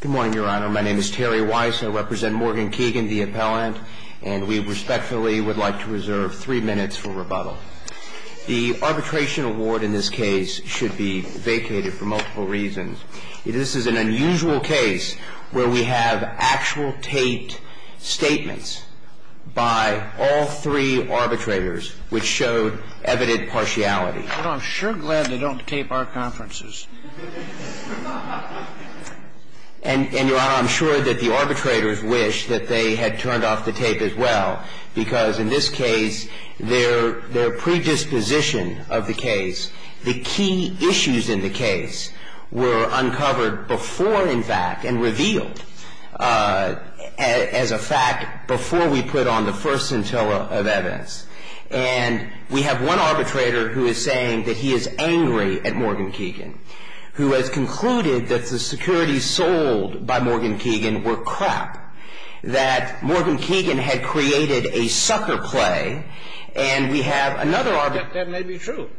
Good morning, Your Honor. My name is Terry Weiss. I represent Morgan Keegan, the appellant, and we respectfully would like to reserve three minutes for rebuttal. The arbitration award in this case should be vacated for multiple reasons. This is an unusual case where we have actual taped statements by all three arbitrators which showed evident partiality. I'm sure glad they don't tape our conferences. And, Your Honor, I'm sure that the arbitrators wish that they had turned off the tape as well, because in this case, their predisposition of the case, the key issues in the case, were uncovered before, in fact, and revealed as a fact before we put on the first scintilla of evidence. And we have one arbitrator who is saying that he is angry at Morgan Keegan, who has concluded that the securities sold by Morgan Keegan were crap, that Morgan Keegan had created a sucker play, and we have another arbitrator That may be true.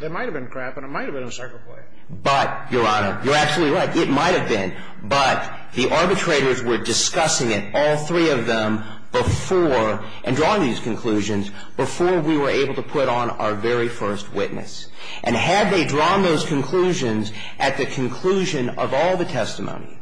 There might have been crap, and it might have been a sucker play. But, Your Honor, you're absolutely right. It might have been. But the arbitrators were discussing it, all three of them, before, and drawing these conclusions, before we were able to put on our very first witness. And had they drawn those conclusions at the conclusion of all the testimony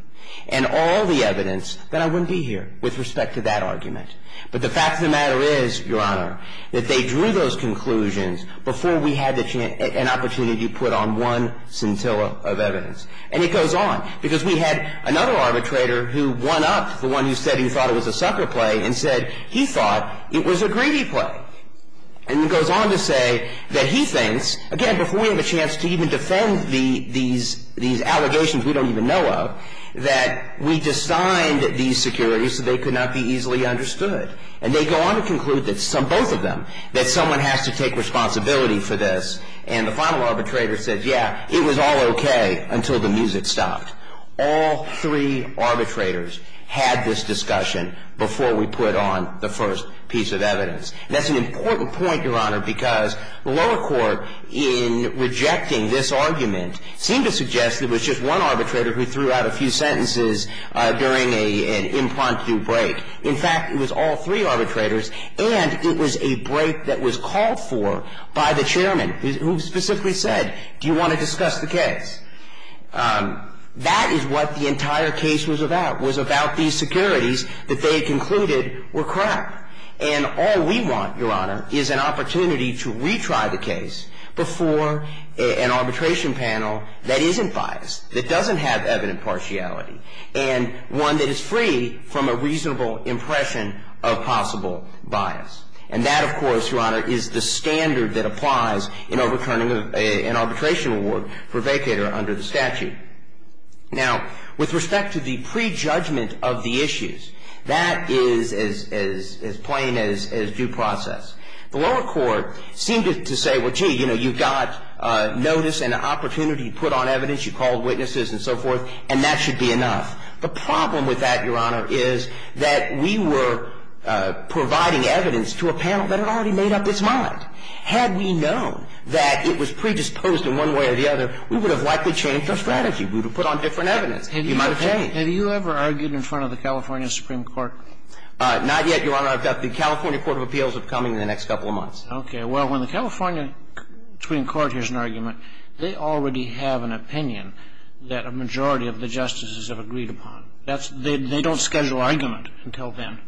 and all the evidence, then I wouldn't be here with respect to that argument. But the fact of the matter is, Your Honor, that they drew those conclusions before we had an opportunity to put on one scintilla of evidence. And it goes on. Because we had another arbitrator who one-upped the one who said he thought it was a sucker play and said he thought it was a greedy play. And it goes on to say that he thinks, again, before we have a chance to even defend these allegations we don't even know of, that we designed these securities so they could not be easily understood. And they go on to conclude, both of them, that someone has to take responsibility for this. And the final arbitrator said, yeah, it was all okay until the music stopped. All three arbitrators had this discussion before we put on the first piece of evidence. And that's an important point, Your Honor, because the lower court, in rejecting this argument, seemed to suggest it was just one arbitrator who threw out a few sentences during an impromptu break. In fact, it was all three arbitrators, and it was a break that was called for by the chairman, who specifically said, do you want to discuss the case? That is what the entire case was about, was about these securities that they had concluded were crap. And all we want, Your Honor, is an opportunity to retry the case before an arbitration panel that isn't biased, that doesn't have evident partiality, and one that is free from a reasonable impression of possible bias. And that, of course, Your Honor, is the standard that applies in overturning an arbitration award for vacator under the statute. Now, with respect to the prejudgment of the issues, that is as plain as due process. The lower court seemed to say, well, gee, you know, you've got notice and an opportunity to put on evidence. You called witnesses and so forth, and that should be enough. The problem with that, Your Honor, is that we were providing evidence to a panel that had already made up its mind. Had we known that it was predisposed in one way or the other, we would have likely changed our strategy. We would have put on different evidence. We might have changed. Have you ever argued in front of the California Supreme Court? Not yet, Your Honor. I've got the California Court of Appeals upcoming in the next couple of months. Okay. Well, when the California Supreme Court hears an argument, they already have an opinion that a majority of the justices have agreed upon. That's the – they don't schedule argument until then.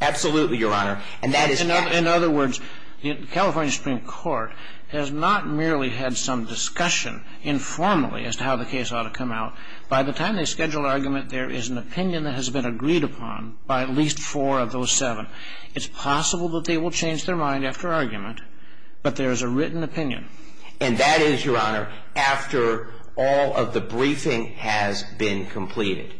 Absolutely, Your Honor. In other words, the California Supreme Court has not merely had some discussion informally as to how the case ought to come out. By the time they schedule argument, there is an opinion that has been agreed upon by at least four of those seven. It's possible that they will change their mind after argument, but there is a written opinion. And that is, Your Honor, after all of the briefing has been completed.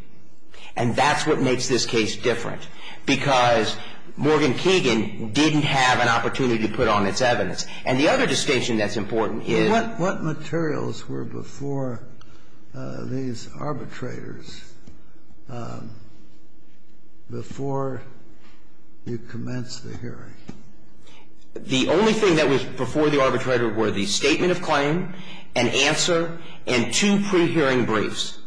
And that's what makes this case different, because Morgan Keegan didn't have an opportunity to put on its evidence. And the other distinction that's important is – What materials were before these arbitrators, before you commenced the hearing? The only thing that was before the arbitrator were the statement of claim, an answer, and two pre-hearing briefs.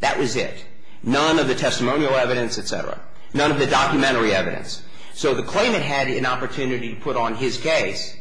That was it. None of the testimonial evidence, et cetera. None of the documentary evidence. So the claimant had an opportunity to put on his case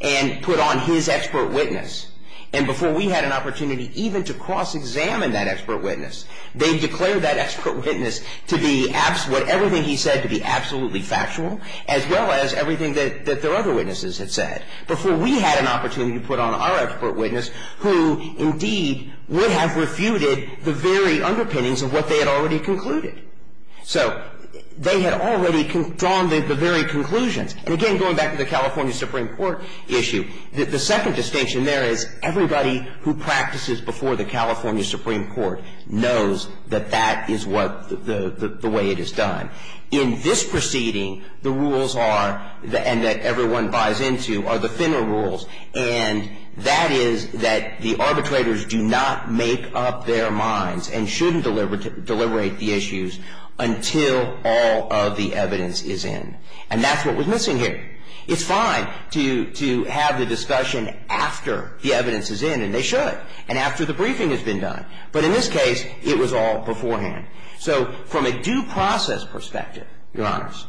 and put on his expert witness. And before we had an opportunity even to cross-examine that expert witness, they declared that expert witness to be absolutely – everything he said to be absolutely factual, as well as everything that their other witnesses had said. Before we had an opportunity to put on our expert witness who, indeed, would have refuted the very underpinnings of what they had already concluded. So they had already drawn the very conclusions. And again, going back to the California Supreme Court issue, the second distinction there is everybody who practices before the California Supreme Court knows that that is what the way it is done. In this proceeding, the rules are, and that everyone buys into, are the thinner rules. And that is that the arbitrators do not make up their minds and shouldn't deliberate the issues until all of the evidence is in. And that's what was missing here. It's fine to have the discussion after the evidence is in, and they should, and after the briefing has been done. But in this case, it was all beforehand. So from a due process perspective, Your Honors,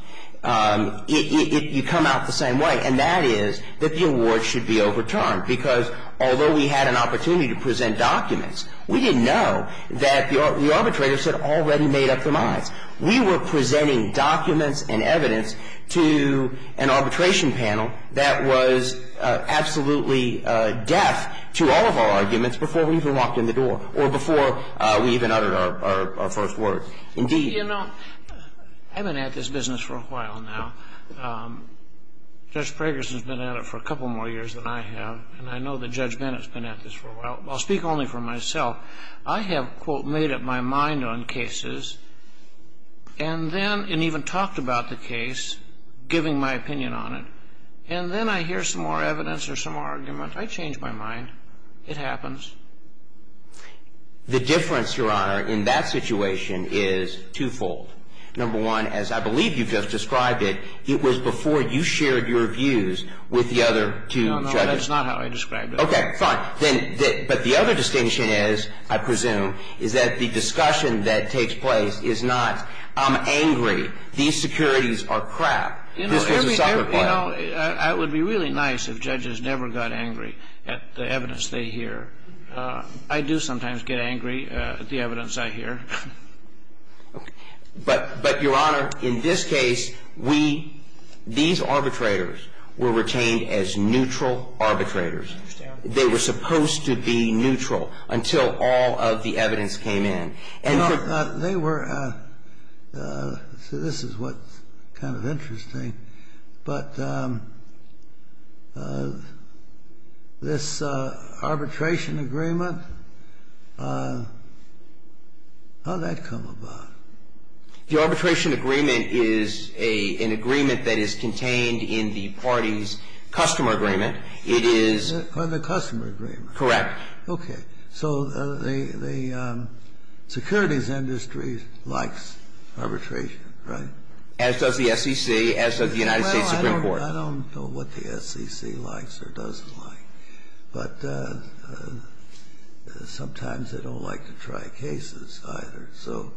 you come out the same way, and that is that the award should be overturned. Because although we had an opportunity to present documents, we didn't know that the arbitrators had already made up their minds. We were presenting documents and evidence to an arbitration panel that was absolutely deaf to all of our arguments before we even walked in the door or before we even uttered our first word. Indeed. You know, I've been at this business for a while now. Judge Pragerson's been at it for a couple more years than I have, and I know that Judge Bennett's been at this for a while. I'll speak only for myself. I have, quote, made up my mind on cases, and then, and even talked about the case, giving my opinion on it. And then I hear some more evidence or some more argument. I change my mind. It happens. The difference, Your Honor, in that situation is twofold. Number one, as I believe you just described it, it was before you shared your views with the other two judges. No, no, that's not how I described it. Okay, fine. Then, but the other distinction is, I presume, is that the discussion that takes place is not, I'm angry, these securities are crap, this was a soccer player. Well, it would be really nice if judges never got angry at the evidence they hear. I do sometimes get angry at the evidence I hear. But, Your Honor, in this case, we, these arbitrators were retained as neutral arbitrators. They were supposed to be neutral until all of the evidence came in. They were, this is what's kind of interesting, but this arbitration agreement, how'd that come about? The arbitration agreement is an agreement that is contained in the party's customer agreement. It is. The customer agreement. Correct. Okay. So the securities industry likes arbitration, right? As does the SEC, as does the United States Supreme Court. Well, I don't know what the SEC likes or doesn't like. But sometimes they don't like to try cases either. So,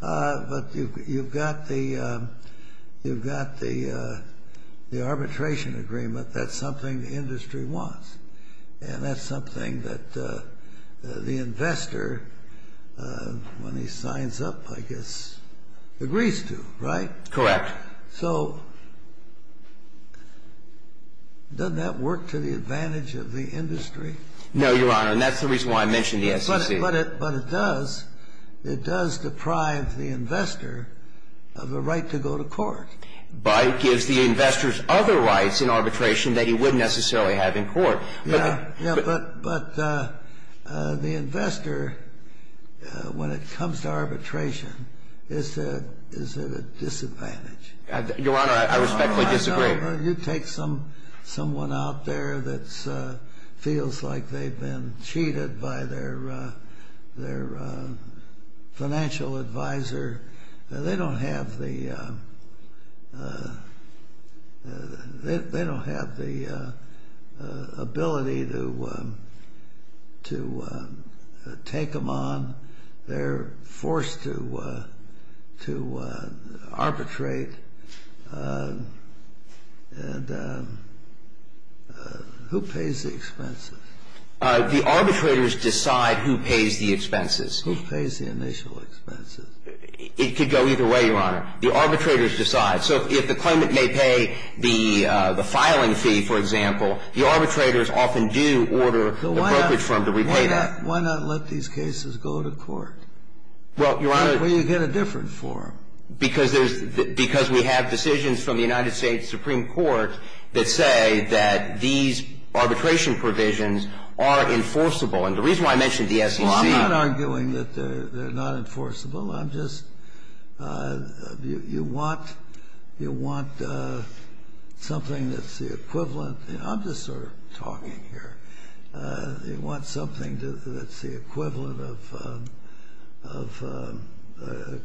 but you've got the arbitration agreement. That's something the industry wants. And that's something that the investor, when he signs up, I guess, agrees to, right? Correct. So doesn't that work to the advantage of the industry? No, Your Honor, and that's the reason why I mentioned the SEC. But it does, it does deprive the investor of the right to go to court. But it gives the investors other rights in arbitration that he wouldn't necessarily have in court. Yeah, but the investor, when it comes to arbitration, is at a disadvantage. Your Honor, I respectfully disagree. You take someone out there that feels like they've been cheated by their financial advisor. They don't have the ability to take them on. They're forced to arbitrate. And who pays the expenses? The arbitrators decide who pays the expenses. Who pays the initial expenses? It could go either way, Your Honor. The arbitrators decide. So if the claimant may pay the filing fee, for example, the arbitrators often do order the brokerage firm to repay that. Why not let these cases go to court? Well, Your Honor. Where you get a different form. Because we have decisions from the United States Supreme Court that say that these arbitration provisions are enforceable. And the reason why I mentioned the SEC. Well, I'm not arguing that they're not enforceable. I'm just, you want something that's the equivalent. I'm just sort of talking here. You want something that's the equivalent of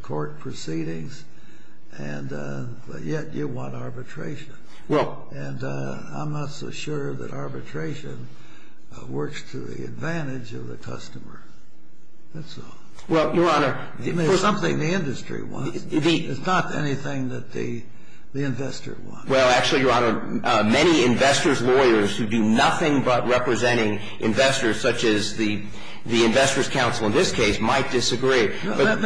court proceedings. And yet you want arbitration. Well. And I'm not so sure that arbitration works to the advantage of the customer. That's all. Well, Your Honor. I mean, it's something the industry wants. Indeed. It's not anything that the investor wants. Well, actually, Your Honor, many investors' lawyers who do nothing but representing investors, such as the investors' council in this case, might disagree. That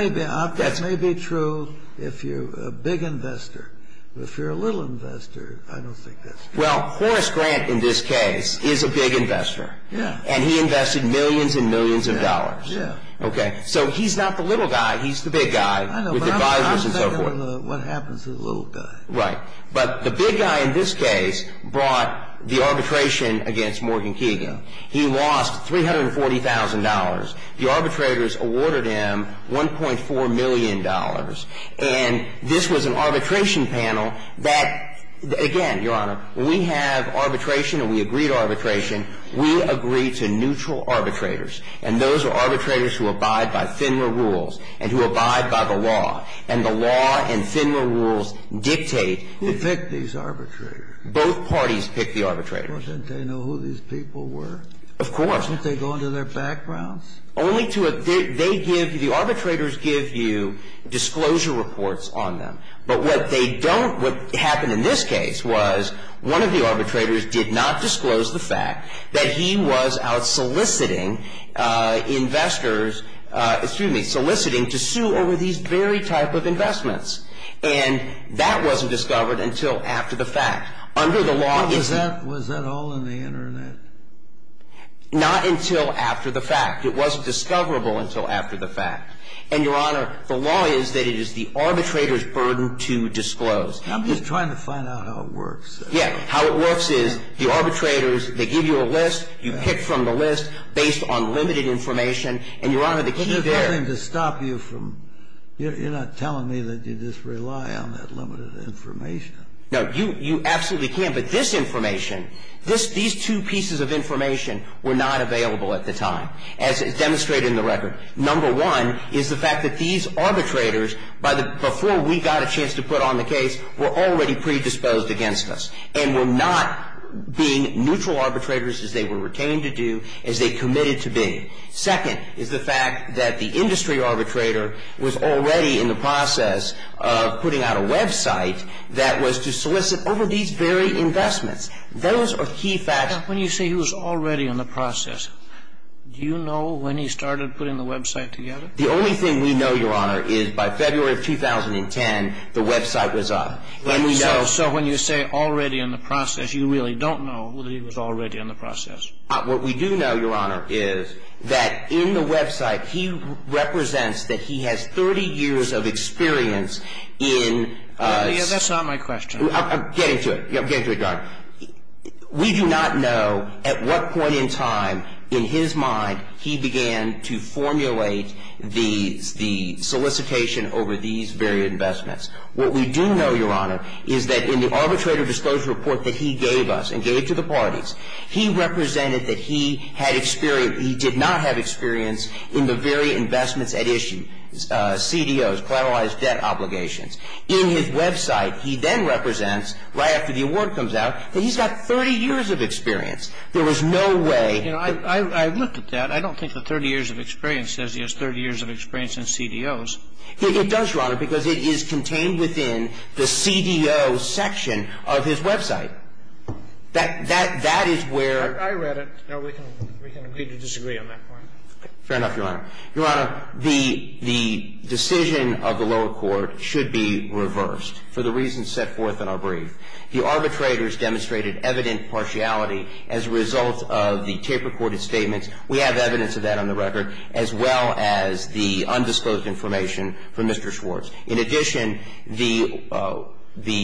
may be true if you're a big investor. If you're a little investor, I don't think that's true. Well, Horace Grant in this case is a big investor. Yeah. And he invested millions and millions of dollars. Yeah. Okay. So he's not the little guy. He's the big guy with advisers and so forth. I know, but I'm saying what happens to the little guy. Right. But the big guy in this case brought the arbitration against Morgan Keegan. He lost $340,000. The arbitrators awarded him $1.4 million. And this was an arbitration panel that, again, Your Honor, we have arbitration and we agreed arbitration. We agreed to neutral arbitrators. And those are arbitrators who abide by FINRA rules and who abide by the law. And the law and FINRA rules dictate. Who picked these arbitrators? Both parties picked the arbitrators. Well, didn't they know who these people were? Of course. Didn't they go into their backgrounds? Only to a they give you the arbitrators give you disclosure reports on them. But what they don't what happened in this case was one of the arbitrators did not disclose the fact that he was out soliciting investors, excuse me, soliciting to sue over these very type of investments. And that wasn't discovered until after the fact. Under the law it's Was that all in the Internet? Not until after the fact. It wasn't discoverable until after the fact. And, Your Honor, the law is that it is the arbitrator's burden to disclose. I'm just trying to find out how it works. Yeah. How it works is the arbitrators, they give you a list. You pick from the list based on limited information. And, Your Honor, the key there There's nothing to stop you from You're not telling me that you just rely on that limited information. No. You absolutely can. But this information, these two pieces of information were not available at the time as demonstrated in the record. Number one is the fact that these arbitrators, before we got a chance to put on the case, were already predisposed against us. And were not being neutral arbitrators as they were retained to do, as they committed to being. Second is the fact that the industry arbitrator was already in the process of putting out a website that was to solicit over these very investments. Those are key facts. When you say he was already in the process, do you know when he started putting the website together? The only thing we know, Your Honor, is by February of 2010 the website was up. So when you say already in the process, you really don't know that he was already in the process. What we do know, Your Honor, is that in the website he represents that he has 30 years of experience in That's not my question. I'm getting to it. I'm getting to it, Your Honor. We do not know at what point in time in his mind he began to formulate the solicitation over these very investments. What we do know, Your Honor, is that in the arbitrator disclosure report that he gave us and gave to the parties, he represented that he had experience, he did not have experience in the very investments at issue, CDOs, collateralized debt obligations. In his website, he then represents, right after the award comes out, that he's got 30 years of experience. There was no way. You know, I've looked at that. I don't think the 30 years of experience says he has 30 years of experience in CDOs. It does, Your Honor, because it is contained within the CDO section of his website. That is where ---- I read it. No, we can agree to disagree on that point. Fair enough, Your Honor. Your Honor, the decision of the lower court should be reversed for the reasons set forth in our brief. The arbitrators demonstrated evident partiality as a result of the tape-recorded statements. We have evidence of that on the record, as well as the undisclosed information from Mr. Schwartz. In addition, the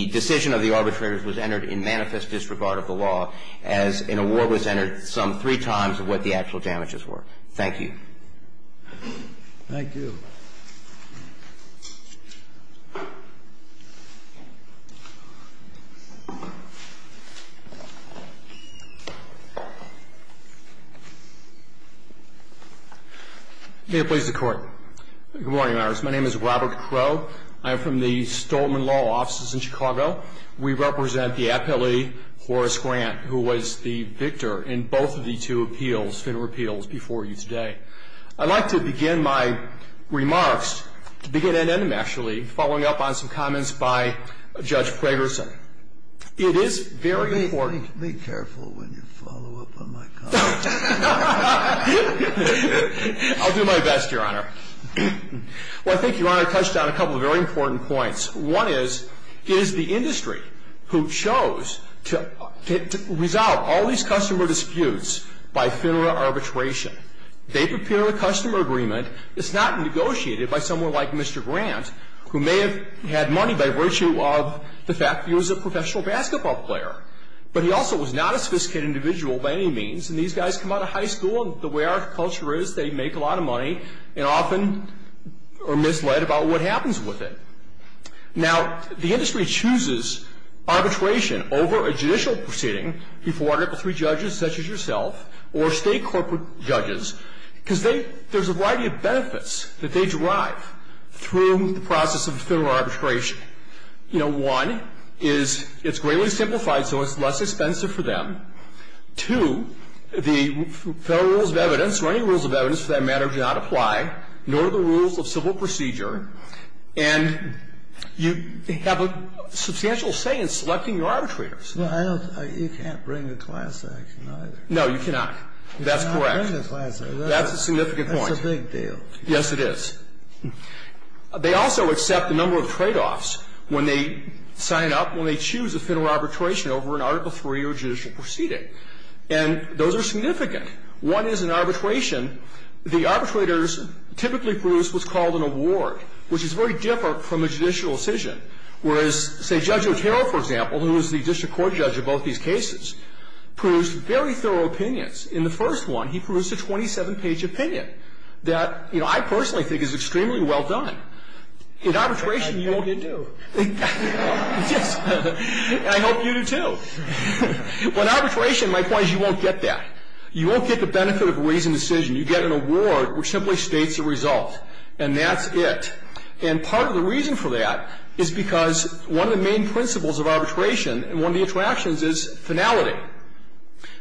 decision of the arbitrators was entered in manifest disregard of the law as an award was entered some three times of what the actual damages were. Thank you. Thank you. May it please the Court. Good morning, Your Honors. My name is Robert Crowe. I am from the Stoltman Law Offices in Chicago. We represent the appellee, Horace Grant, who was the victor in both of the two appeals, FINRA appeals before you today. I'd like to begin my remarks, to begin and end, actually, following up on some comments by Judge Pragerson. It is very important ---- Be careful when you follow up on my comments. I'll do my best, Your Honor. Well, I think Your Honor touched on a couple of very important points. One is, it is the industry who chose to resolve all these customer disputes by FINRA arbitration. They prepare a customer agreement that's not negotiated by someone like Mr. Grant, who may have had money by virtue of the fact that he was a professional basketball player. But he also was not a sophisticated individual by any means. And these guys come out of high school, and the way our culture is, they make a lot of money and often are misled about what happens with it. Now, the industry chooses arbitration over a judicial proceeding before three judges, such as yourself or state corporate judges, because they ---- there's a variety of benefits that they derive through the process of FINRA arbitration. You know, one is it's greatly simplified, so it's less expensive for them. Two, the federal rules of evidence or any rules of evidence for that matter do not apply, nor do the rules of civil procedure. And you have a substantial say in selecting your arbitrators. Well, I don't ---- you can't bring a class action either. No, you cannot. That's correct. You cannot bring a class action. That's a significant point. That's a big deal. Yes, it is. They also accept a number of tradeoffs when they sign up, when they choose a FINRA arbitration over an Article III or judicial proceeding. And those are significant. One is in arbitration, the arbitrators typically produce what's called an award, which is very different from a judicial decision, whereas, say, Judge Otero, for example, who is the district court judge of both these cases, produced very thorough opinions. In the first one, he produced a 27-page opinion that, you know, I personally think is extremely well done. In arbitration, you don't get to. I hope you do, too. But in arbitration, my point is you won't get that. You won't get the benefit of a reasoned decision. You get an award which simply states the result, and that's it. And part of the reason for that is because one of the main principles of arbitration and one of the attractions is finality.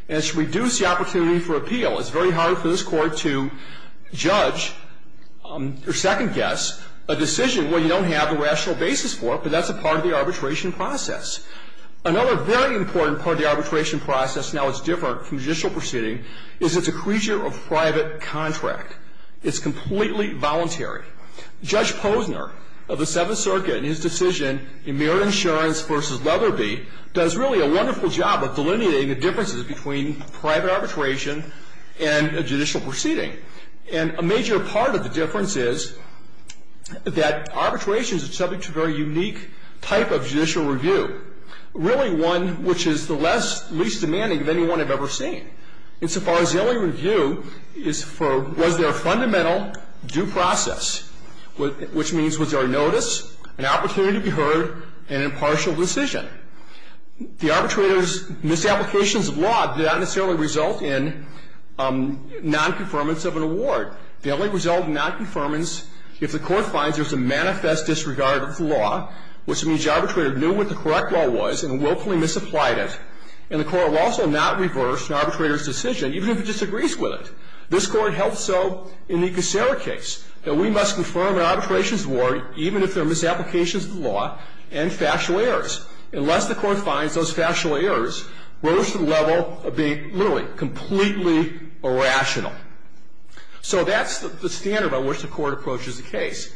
And it should reduce the opportunity for appeal. It's very hard for this Court to judge or second-guess a decision where you don't have a rational basis for it, but that's a part of the arbitration process. Another very important part of the arbitration process, now it's different from judicial proceeding, is it's a creature of private contract. It's completely voluntary. Judge Posner of the Seventh Circuit in his decision in Merit Insurance v. Leatherby does really a wonderful job of delineating the differences between private arbitration and a judicial proceeding. And a major part of the difference is that arbitration is subject to a very unique type of judicial review, really one which is the least demanding of anyone I've ever seen. Insofar as the only review is for was there a fundamental due process, which means was there a notice, an opportunity to be heard, and an impartial decision? The arbitrator's misapplications of law did not necessarily result in non-conformance of an award. The only result of non-conformance, if the Court finds there's a manifest disregard of the law, which means the arbitrator knew what the correct law was and willfully misapplied it, and the Court will also not reverse an arbitrator's decision, even if it disagrees with it. This Court held so in the Cacera case that we must confirm an arbitration's award, even if there are misapplications of the law and factual errors, unless the Court finds those factual errors rose to the level of being literally completely irrational. So that's the standard by which the Court approaches the case.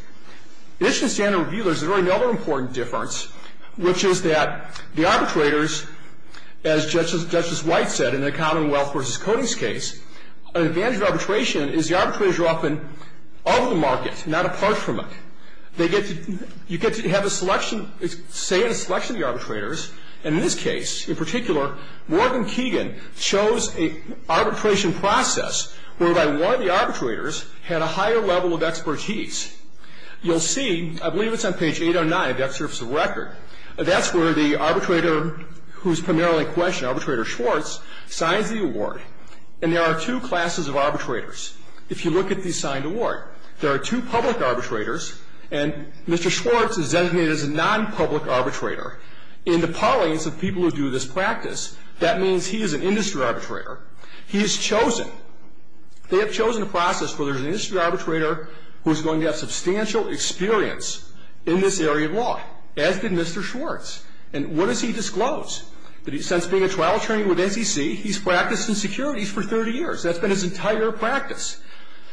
In addition to standard review, there's another important difference, which is that the arbitrators, as Justice White said in the Commonwealth v. Codings case, an advantage of arbitration is the arbitrators are often of the market, not apart from it. They get to have a selection, say a selection of the arbitrators, and in this case in particular, Morgan Keegan chose an arbitration process whereby one of the arbitrators had a higher level of expertise. You'll see, I believe it's on page 809 of the excerpts of the record, that's where the arbitrator who's primarily in question, Arbitrator Schwartz, signs the award. And there are two classes of arbitrators. If you look at the signed award, there are two public arbitrators, and Mr. Schwartz is designated as a nonpublic arbitrator. In the parlance of people who do this practice, that means he is an industry arbitrator. He is chosen. They have chosen a process where there's an industry arbitrator who's going to have substantial experience in this area of law, as did Mr. Schwartz. And what does he disclose? That since being a trial attorney with NCC, he's practiced in securities for 30 years. That's been his entire practice.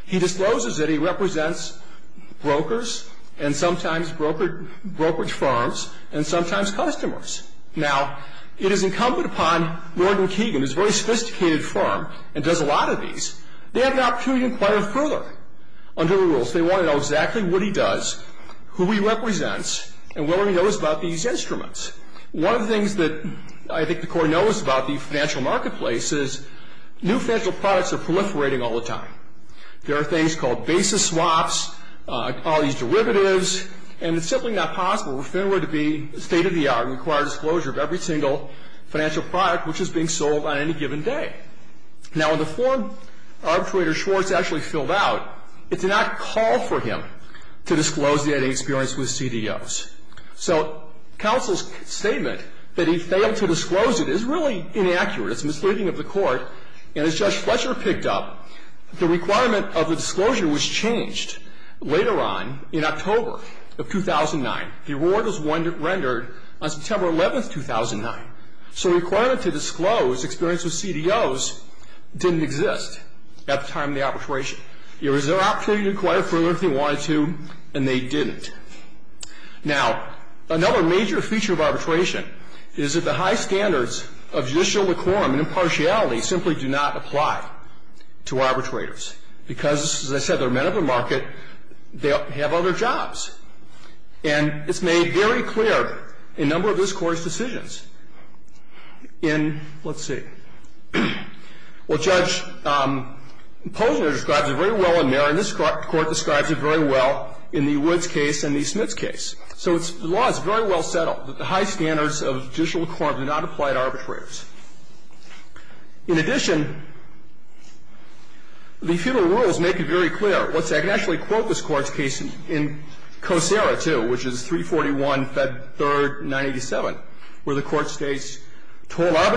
He discloses that he represents brokers and sometimes brokerage firms and sometimes customers. Now, it is incumbent upon Morgan Keegan, who's a very sophisticated firm and does a lot of these, they have an opportunity to inquire further under the rules. They want to know exactly what he does, who he represents, and what he knows about these instruments. One of the things that I think the Court knows about the financial marketplace is new financial products are proliferating all the time. There are things called basis swaps, all these derivatives, and it's simply not possible for Fenway to be state-of-the-art and require disclosure of every single financial product which is being sold on any given day. Now, when the form Arbitrator Schwartz actually filled out, it did not call for him to disclose that he had experience with CDOs. So counsel's statement that he failed to disclose it is really inaccurate. It's misleading of the Court. And as Judge Fletcher picked up, the requirement of the disclosure was changed later on in October of 2009. The award was rendered on September 11th, 2009. So the requirement to disclose experience with CDOs didn't exist at the time of the arbitration. It was their opportunity to inquire further if they wanted to, and they didn't. Now, another major feature of arbitration is that the high standards of judicial decorum and impartiality simply do not apply to arbitrators because, as I said, they're men of the market. They have other jobs. And it's made very clear in a number of this Court's decisions. In, let's see. Well, Judge Posner describes it very well in Merrion. And this Court describes it very well in the Woods case and the Smiths case. So the law is very well settled that the high standards of judicial decorum do not apply to arbitrators. In addition, the federal rules make it very clear. Let's see. I can actually quote this Court's case in Kosera, too, which is 341, Fed 3rd, 987, where the Court states, That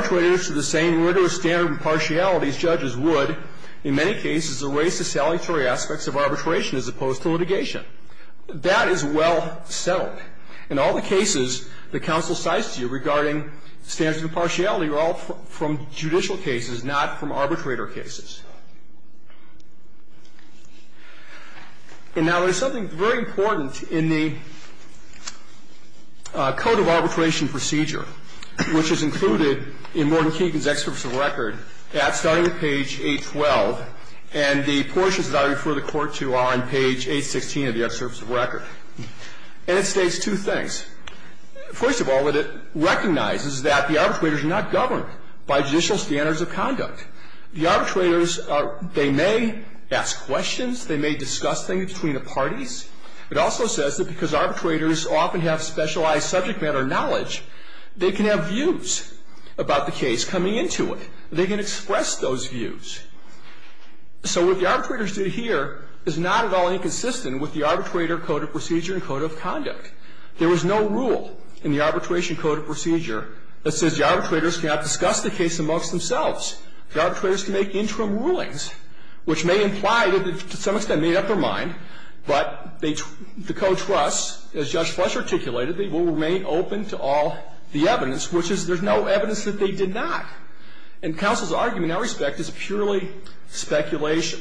is well settled. In all the cases the counsel cites to you regarding standards of impartiality are all from judicial cases, not from arbitrator cases. And now, there's something very important in the code of arbitration procedure, which is called the standard of impartiality. And it states two things. First of all, that it recognizes that the arbitrators are not governed by judicial standards of conduct. The arbitrators, they may ask questions. They may discuss things between the parties. It also says that because arbitrators often have specialized subject matter about the case coming into it. They can express those views. So what the arbitrators did here is not at all inconsistent with the arbitrator code of procedure and code of conduct. There was no rule in the arbitration code of procedure that says the arbitrators cannot discuss the case amongst themselves. The arbitrators can make interim rulings, which may imply that they've to some extent made up their mind, but the co-trusts, as Judge Fletcher articulated, they will remain open to all the evidence, which is there's no evidence that they did not. And counsel's argument in that respect is purely speculation.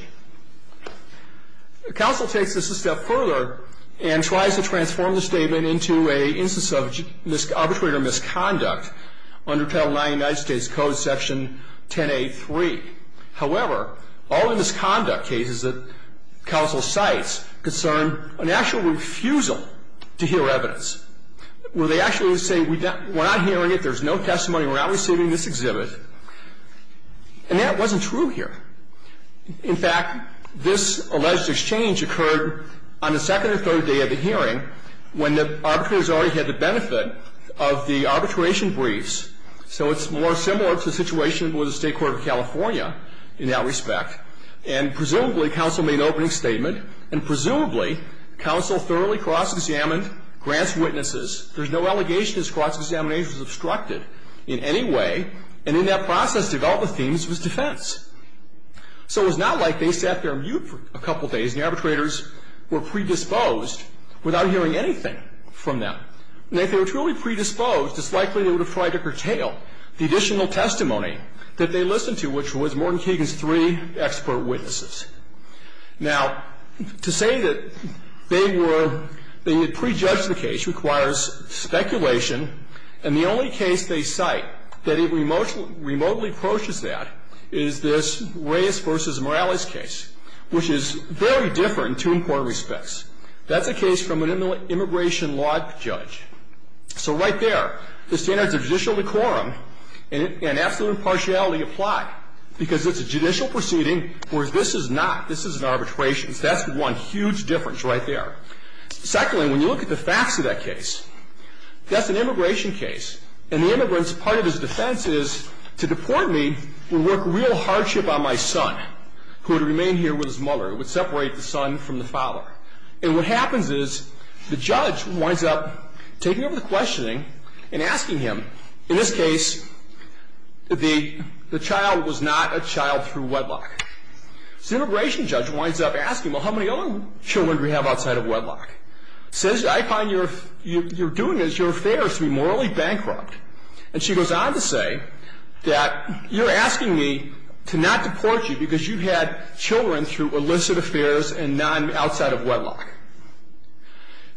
Counsel takes this a step further and tries to transform the statement into an instance of arbitrator misconduct under Title IX of the United States Code, Section 10A3. However, all the misconduct cases that counsel cites concern an actual refusal to hear evidence. Where they actually say we're not hearing it, there's no testimony, we're not receiving this exhibit. And that wasn't true here. In fact, this alleged exchange occurred on the second or third day of the hearing when the arbitrators already had the benefit of the arbitration briefs. So it's more similar to the situation with the State Court of California in that respect. And presumably counsel made an opening statement, and presumably counsel thoroughly cross-examined Grant's witnesses. There's no allegation this cross-examination was obstructed in any way. And in that process, development themes was defense. So it was not like they sat there mute for a couple days and the arbitrators were predisposed without hearing anything from them. And if they were truly predisposed, it's likely they would have tried to curtail the additional testimony that they listened to, which was Morton Keegan's three expert witnesses. Now, to say that they were pre-judged the case requires speculation. And the only case they cite that remotely approaches that is this Reyes v. Morales case, which is very different in two important respects. That's a case from an immigration law judge. So right there, the standards of judicial decorum and absolute impartiality apply, because it's a judicial proceeding, whereas this is not. This is an arbitration. So that's one huge difference right there. Secondly, when you look at the facts of that case, that's an immigration case. And the immigrant's part of his defense is, to deport me would work real hardship on my son, who would remain here with his mother. It would separate the son from the father. And what happens is the judge winds up taking over the questioning and asking him, in this case, the child was not a child through wedlock. So the immigration judge winds up asking, well, how many other children do we have outside of wedlock? Says, I find you're doing this, your affair is to be morally bankrupt. And she goes on to say that you're asking me to not deport you because you had children through illicit affairs and not outside of wedlock.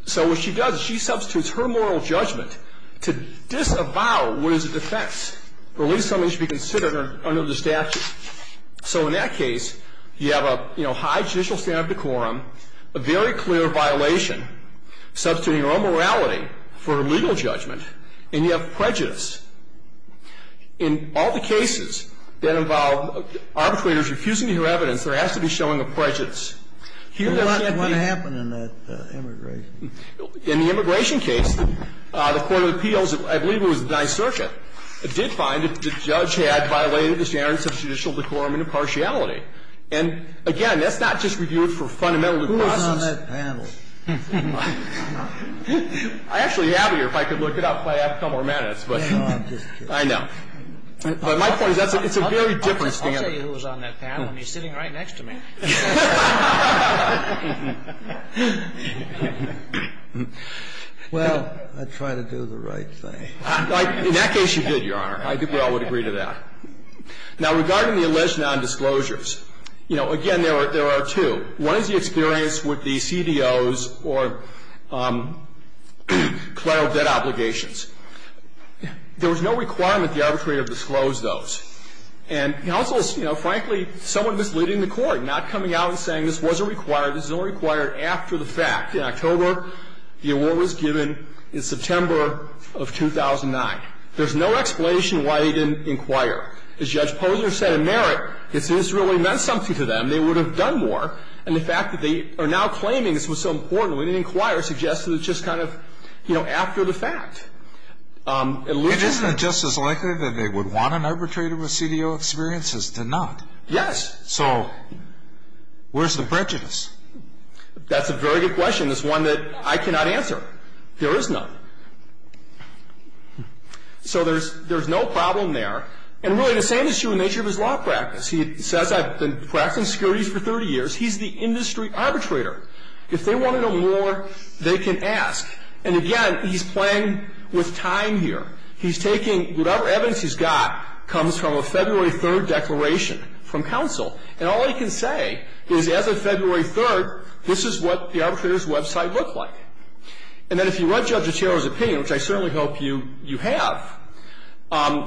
So what she does is she substitutes her moral judgment to disavow what is a defense, or at least something that should be considered under the statute. So in that case, you have a high judicial standard of decorum, a very clear violation, substituting her own morality for her legal judgment, and you have prejudice. In all the cases that involve arbitrators refusing to hear evidence, there has to be showing of prejudice. What happened in that immigration case? In the immigration case, the Court of Appeals, I believe it was the 9th Circuit, did find that the judge had violated the standards of judicial decorum and impartiality. And, again, that's not just reviewed for fundamentally process. Who was on that panel? I actually have it here. If I could look it up, I'd have a couple more minutes. No, I'm just kidding. I know. But my point is it's a very different standard. I'll tell you who was on that panel, and he's sitting right next to me. You don't. You don't. You don't. You don't. Well, I try to do the right thing. In that case, you did, Your Honor. I think we all would agree to that. Now, regarding the alleged nondisclosures, you know, again, there are two. One is the experience with the CDOs or collateral debt obligations. There was no requirement the arbitrator disclosed those. And counsel is, you know, frankly, somewhat misleading the court, not coming out and saying this wasn't required, this is only required after the fact. In October, the award was given. In September of 2009. There's no explanation why he didn't inquire. As Judge Posner said in Merritt, if this really meant something to them, they would have done more. And the fact that they are now claiming this was so important when it inquires suggests that it's just kind of, you know, after the fact. Isn't it just as likely that they would want an arbitrator with CDO experiences to not? Yes. So where's the prejudice? That's a very good question. It's one that I cannot answer. There is none. So there's no problem there. And really, the same is true in nature of his law practice. He says I've been practicing securities for 30 years. He's the industry arbitrator. If they want to know more, they can ask. And again, he's playing with time here. He's taking whatever evidence he's got comes from a February 3rd declaration from counsel. And all he can say is as of February 3rd, this is what the arbitrator's website looked like. And then if you read Judge Guterro's opinion, which I certainly hope you have,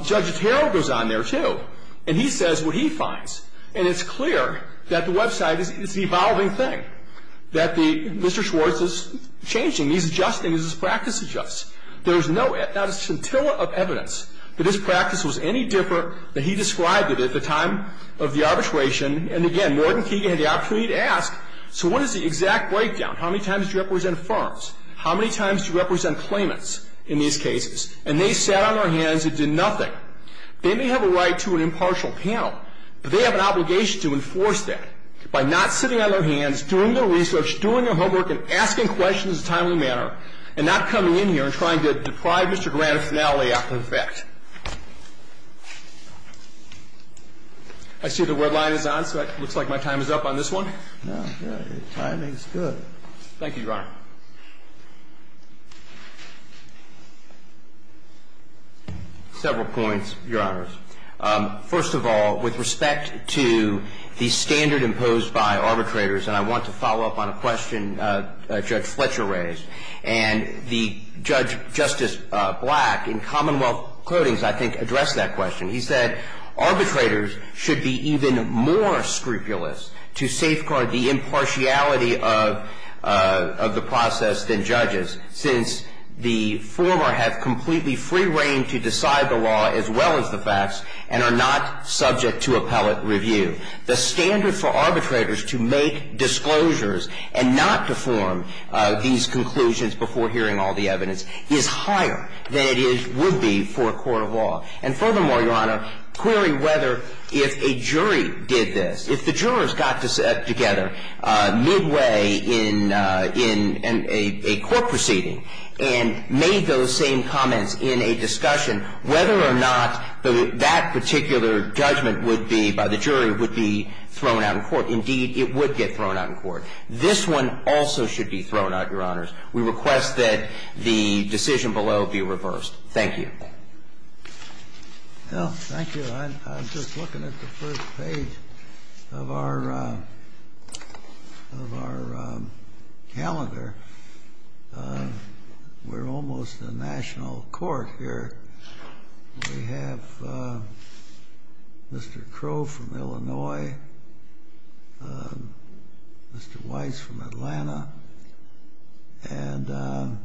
Judge Guterro goes on there, too. And he says what he finds. And it's clear that the website is the evolving thing, that Mr. Schwartz is changing. He's adjusting as his practice adjusts. There's not a scintilla of evidence that his practice was any different than he described it at the time of the arbitration. And again, Norton Keegan had the opportunity to ask, so what is the exact breakdown? How many times do you represent firms? How many times do you represent claimants in these cases? And they sat on their hands and did nothing. They may have a right to an impartial panel, but they have an obligation to enforce that by not sitting on their hands, doing their research, doing their homework, and asking questions in a timely manner, and not coming in here and trying to deprive Mr. Grant of finality after the fact. I see the red line is on, so it looks like my time is up on this one. Your timing is good. Thank you, Your Honor. Several points, Your Honors. First of all, with respect to the standard imposed by arbitrators, and I want to follow up on a question Judge Fletcher raised, and the judge, Justice Black, in Commonwealth Codings, I think, addressed that question. He said arbitrators should be even more scrupulous to safeguard the impartiality of the process than judges, since the former have completely free reign to decide the law as well as the facts, and are not subject to appellate review. The standard for arbitrators to make disclosures and not to form these conclusions before hearing all the evidence is higher than it would be for a court of law. And furthermore, Your Honor, query whether if a jury did this, if the jurors got together midway in a court proceeding and made those same comments in a discussion, whether or not that particular judgment would be, by the jury, would be thrown out in court. Indeed, it would get thrown out in court. This one also should be thrown out, Your Honors. We request that the decision below be reversed. Thank you. Well, thank you. I'm just looking at the first page of our calendar. We're almost a national court here. We have Mr. Crow from Illinois, Mr. Weiss from Atlanta, and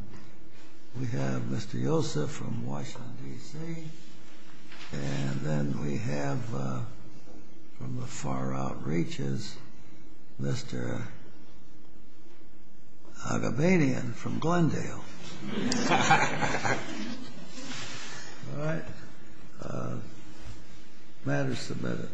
we have Mr. Yosef from Washington, D.C., and then we have, from the far outreaches, Mr. Agabanian from Glendale. All right. The matter is submitted.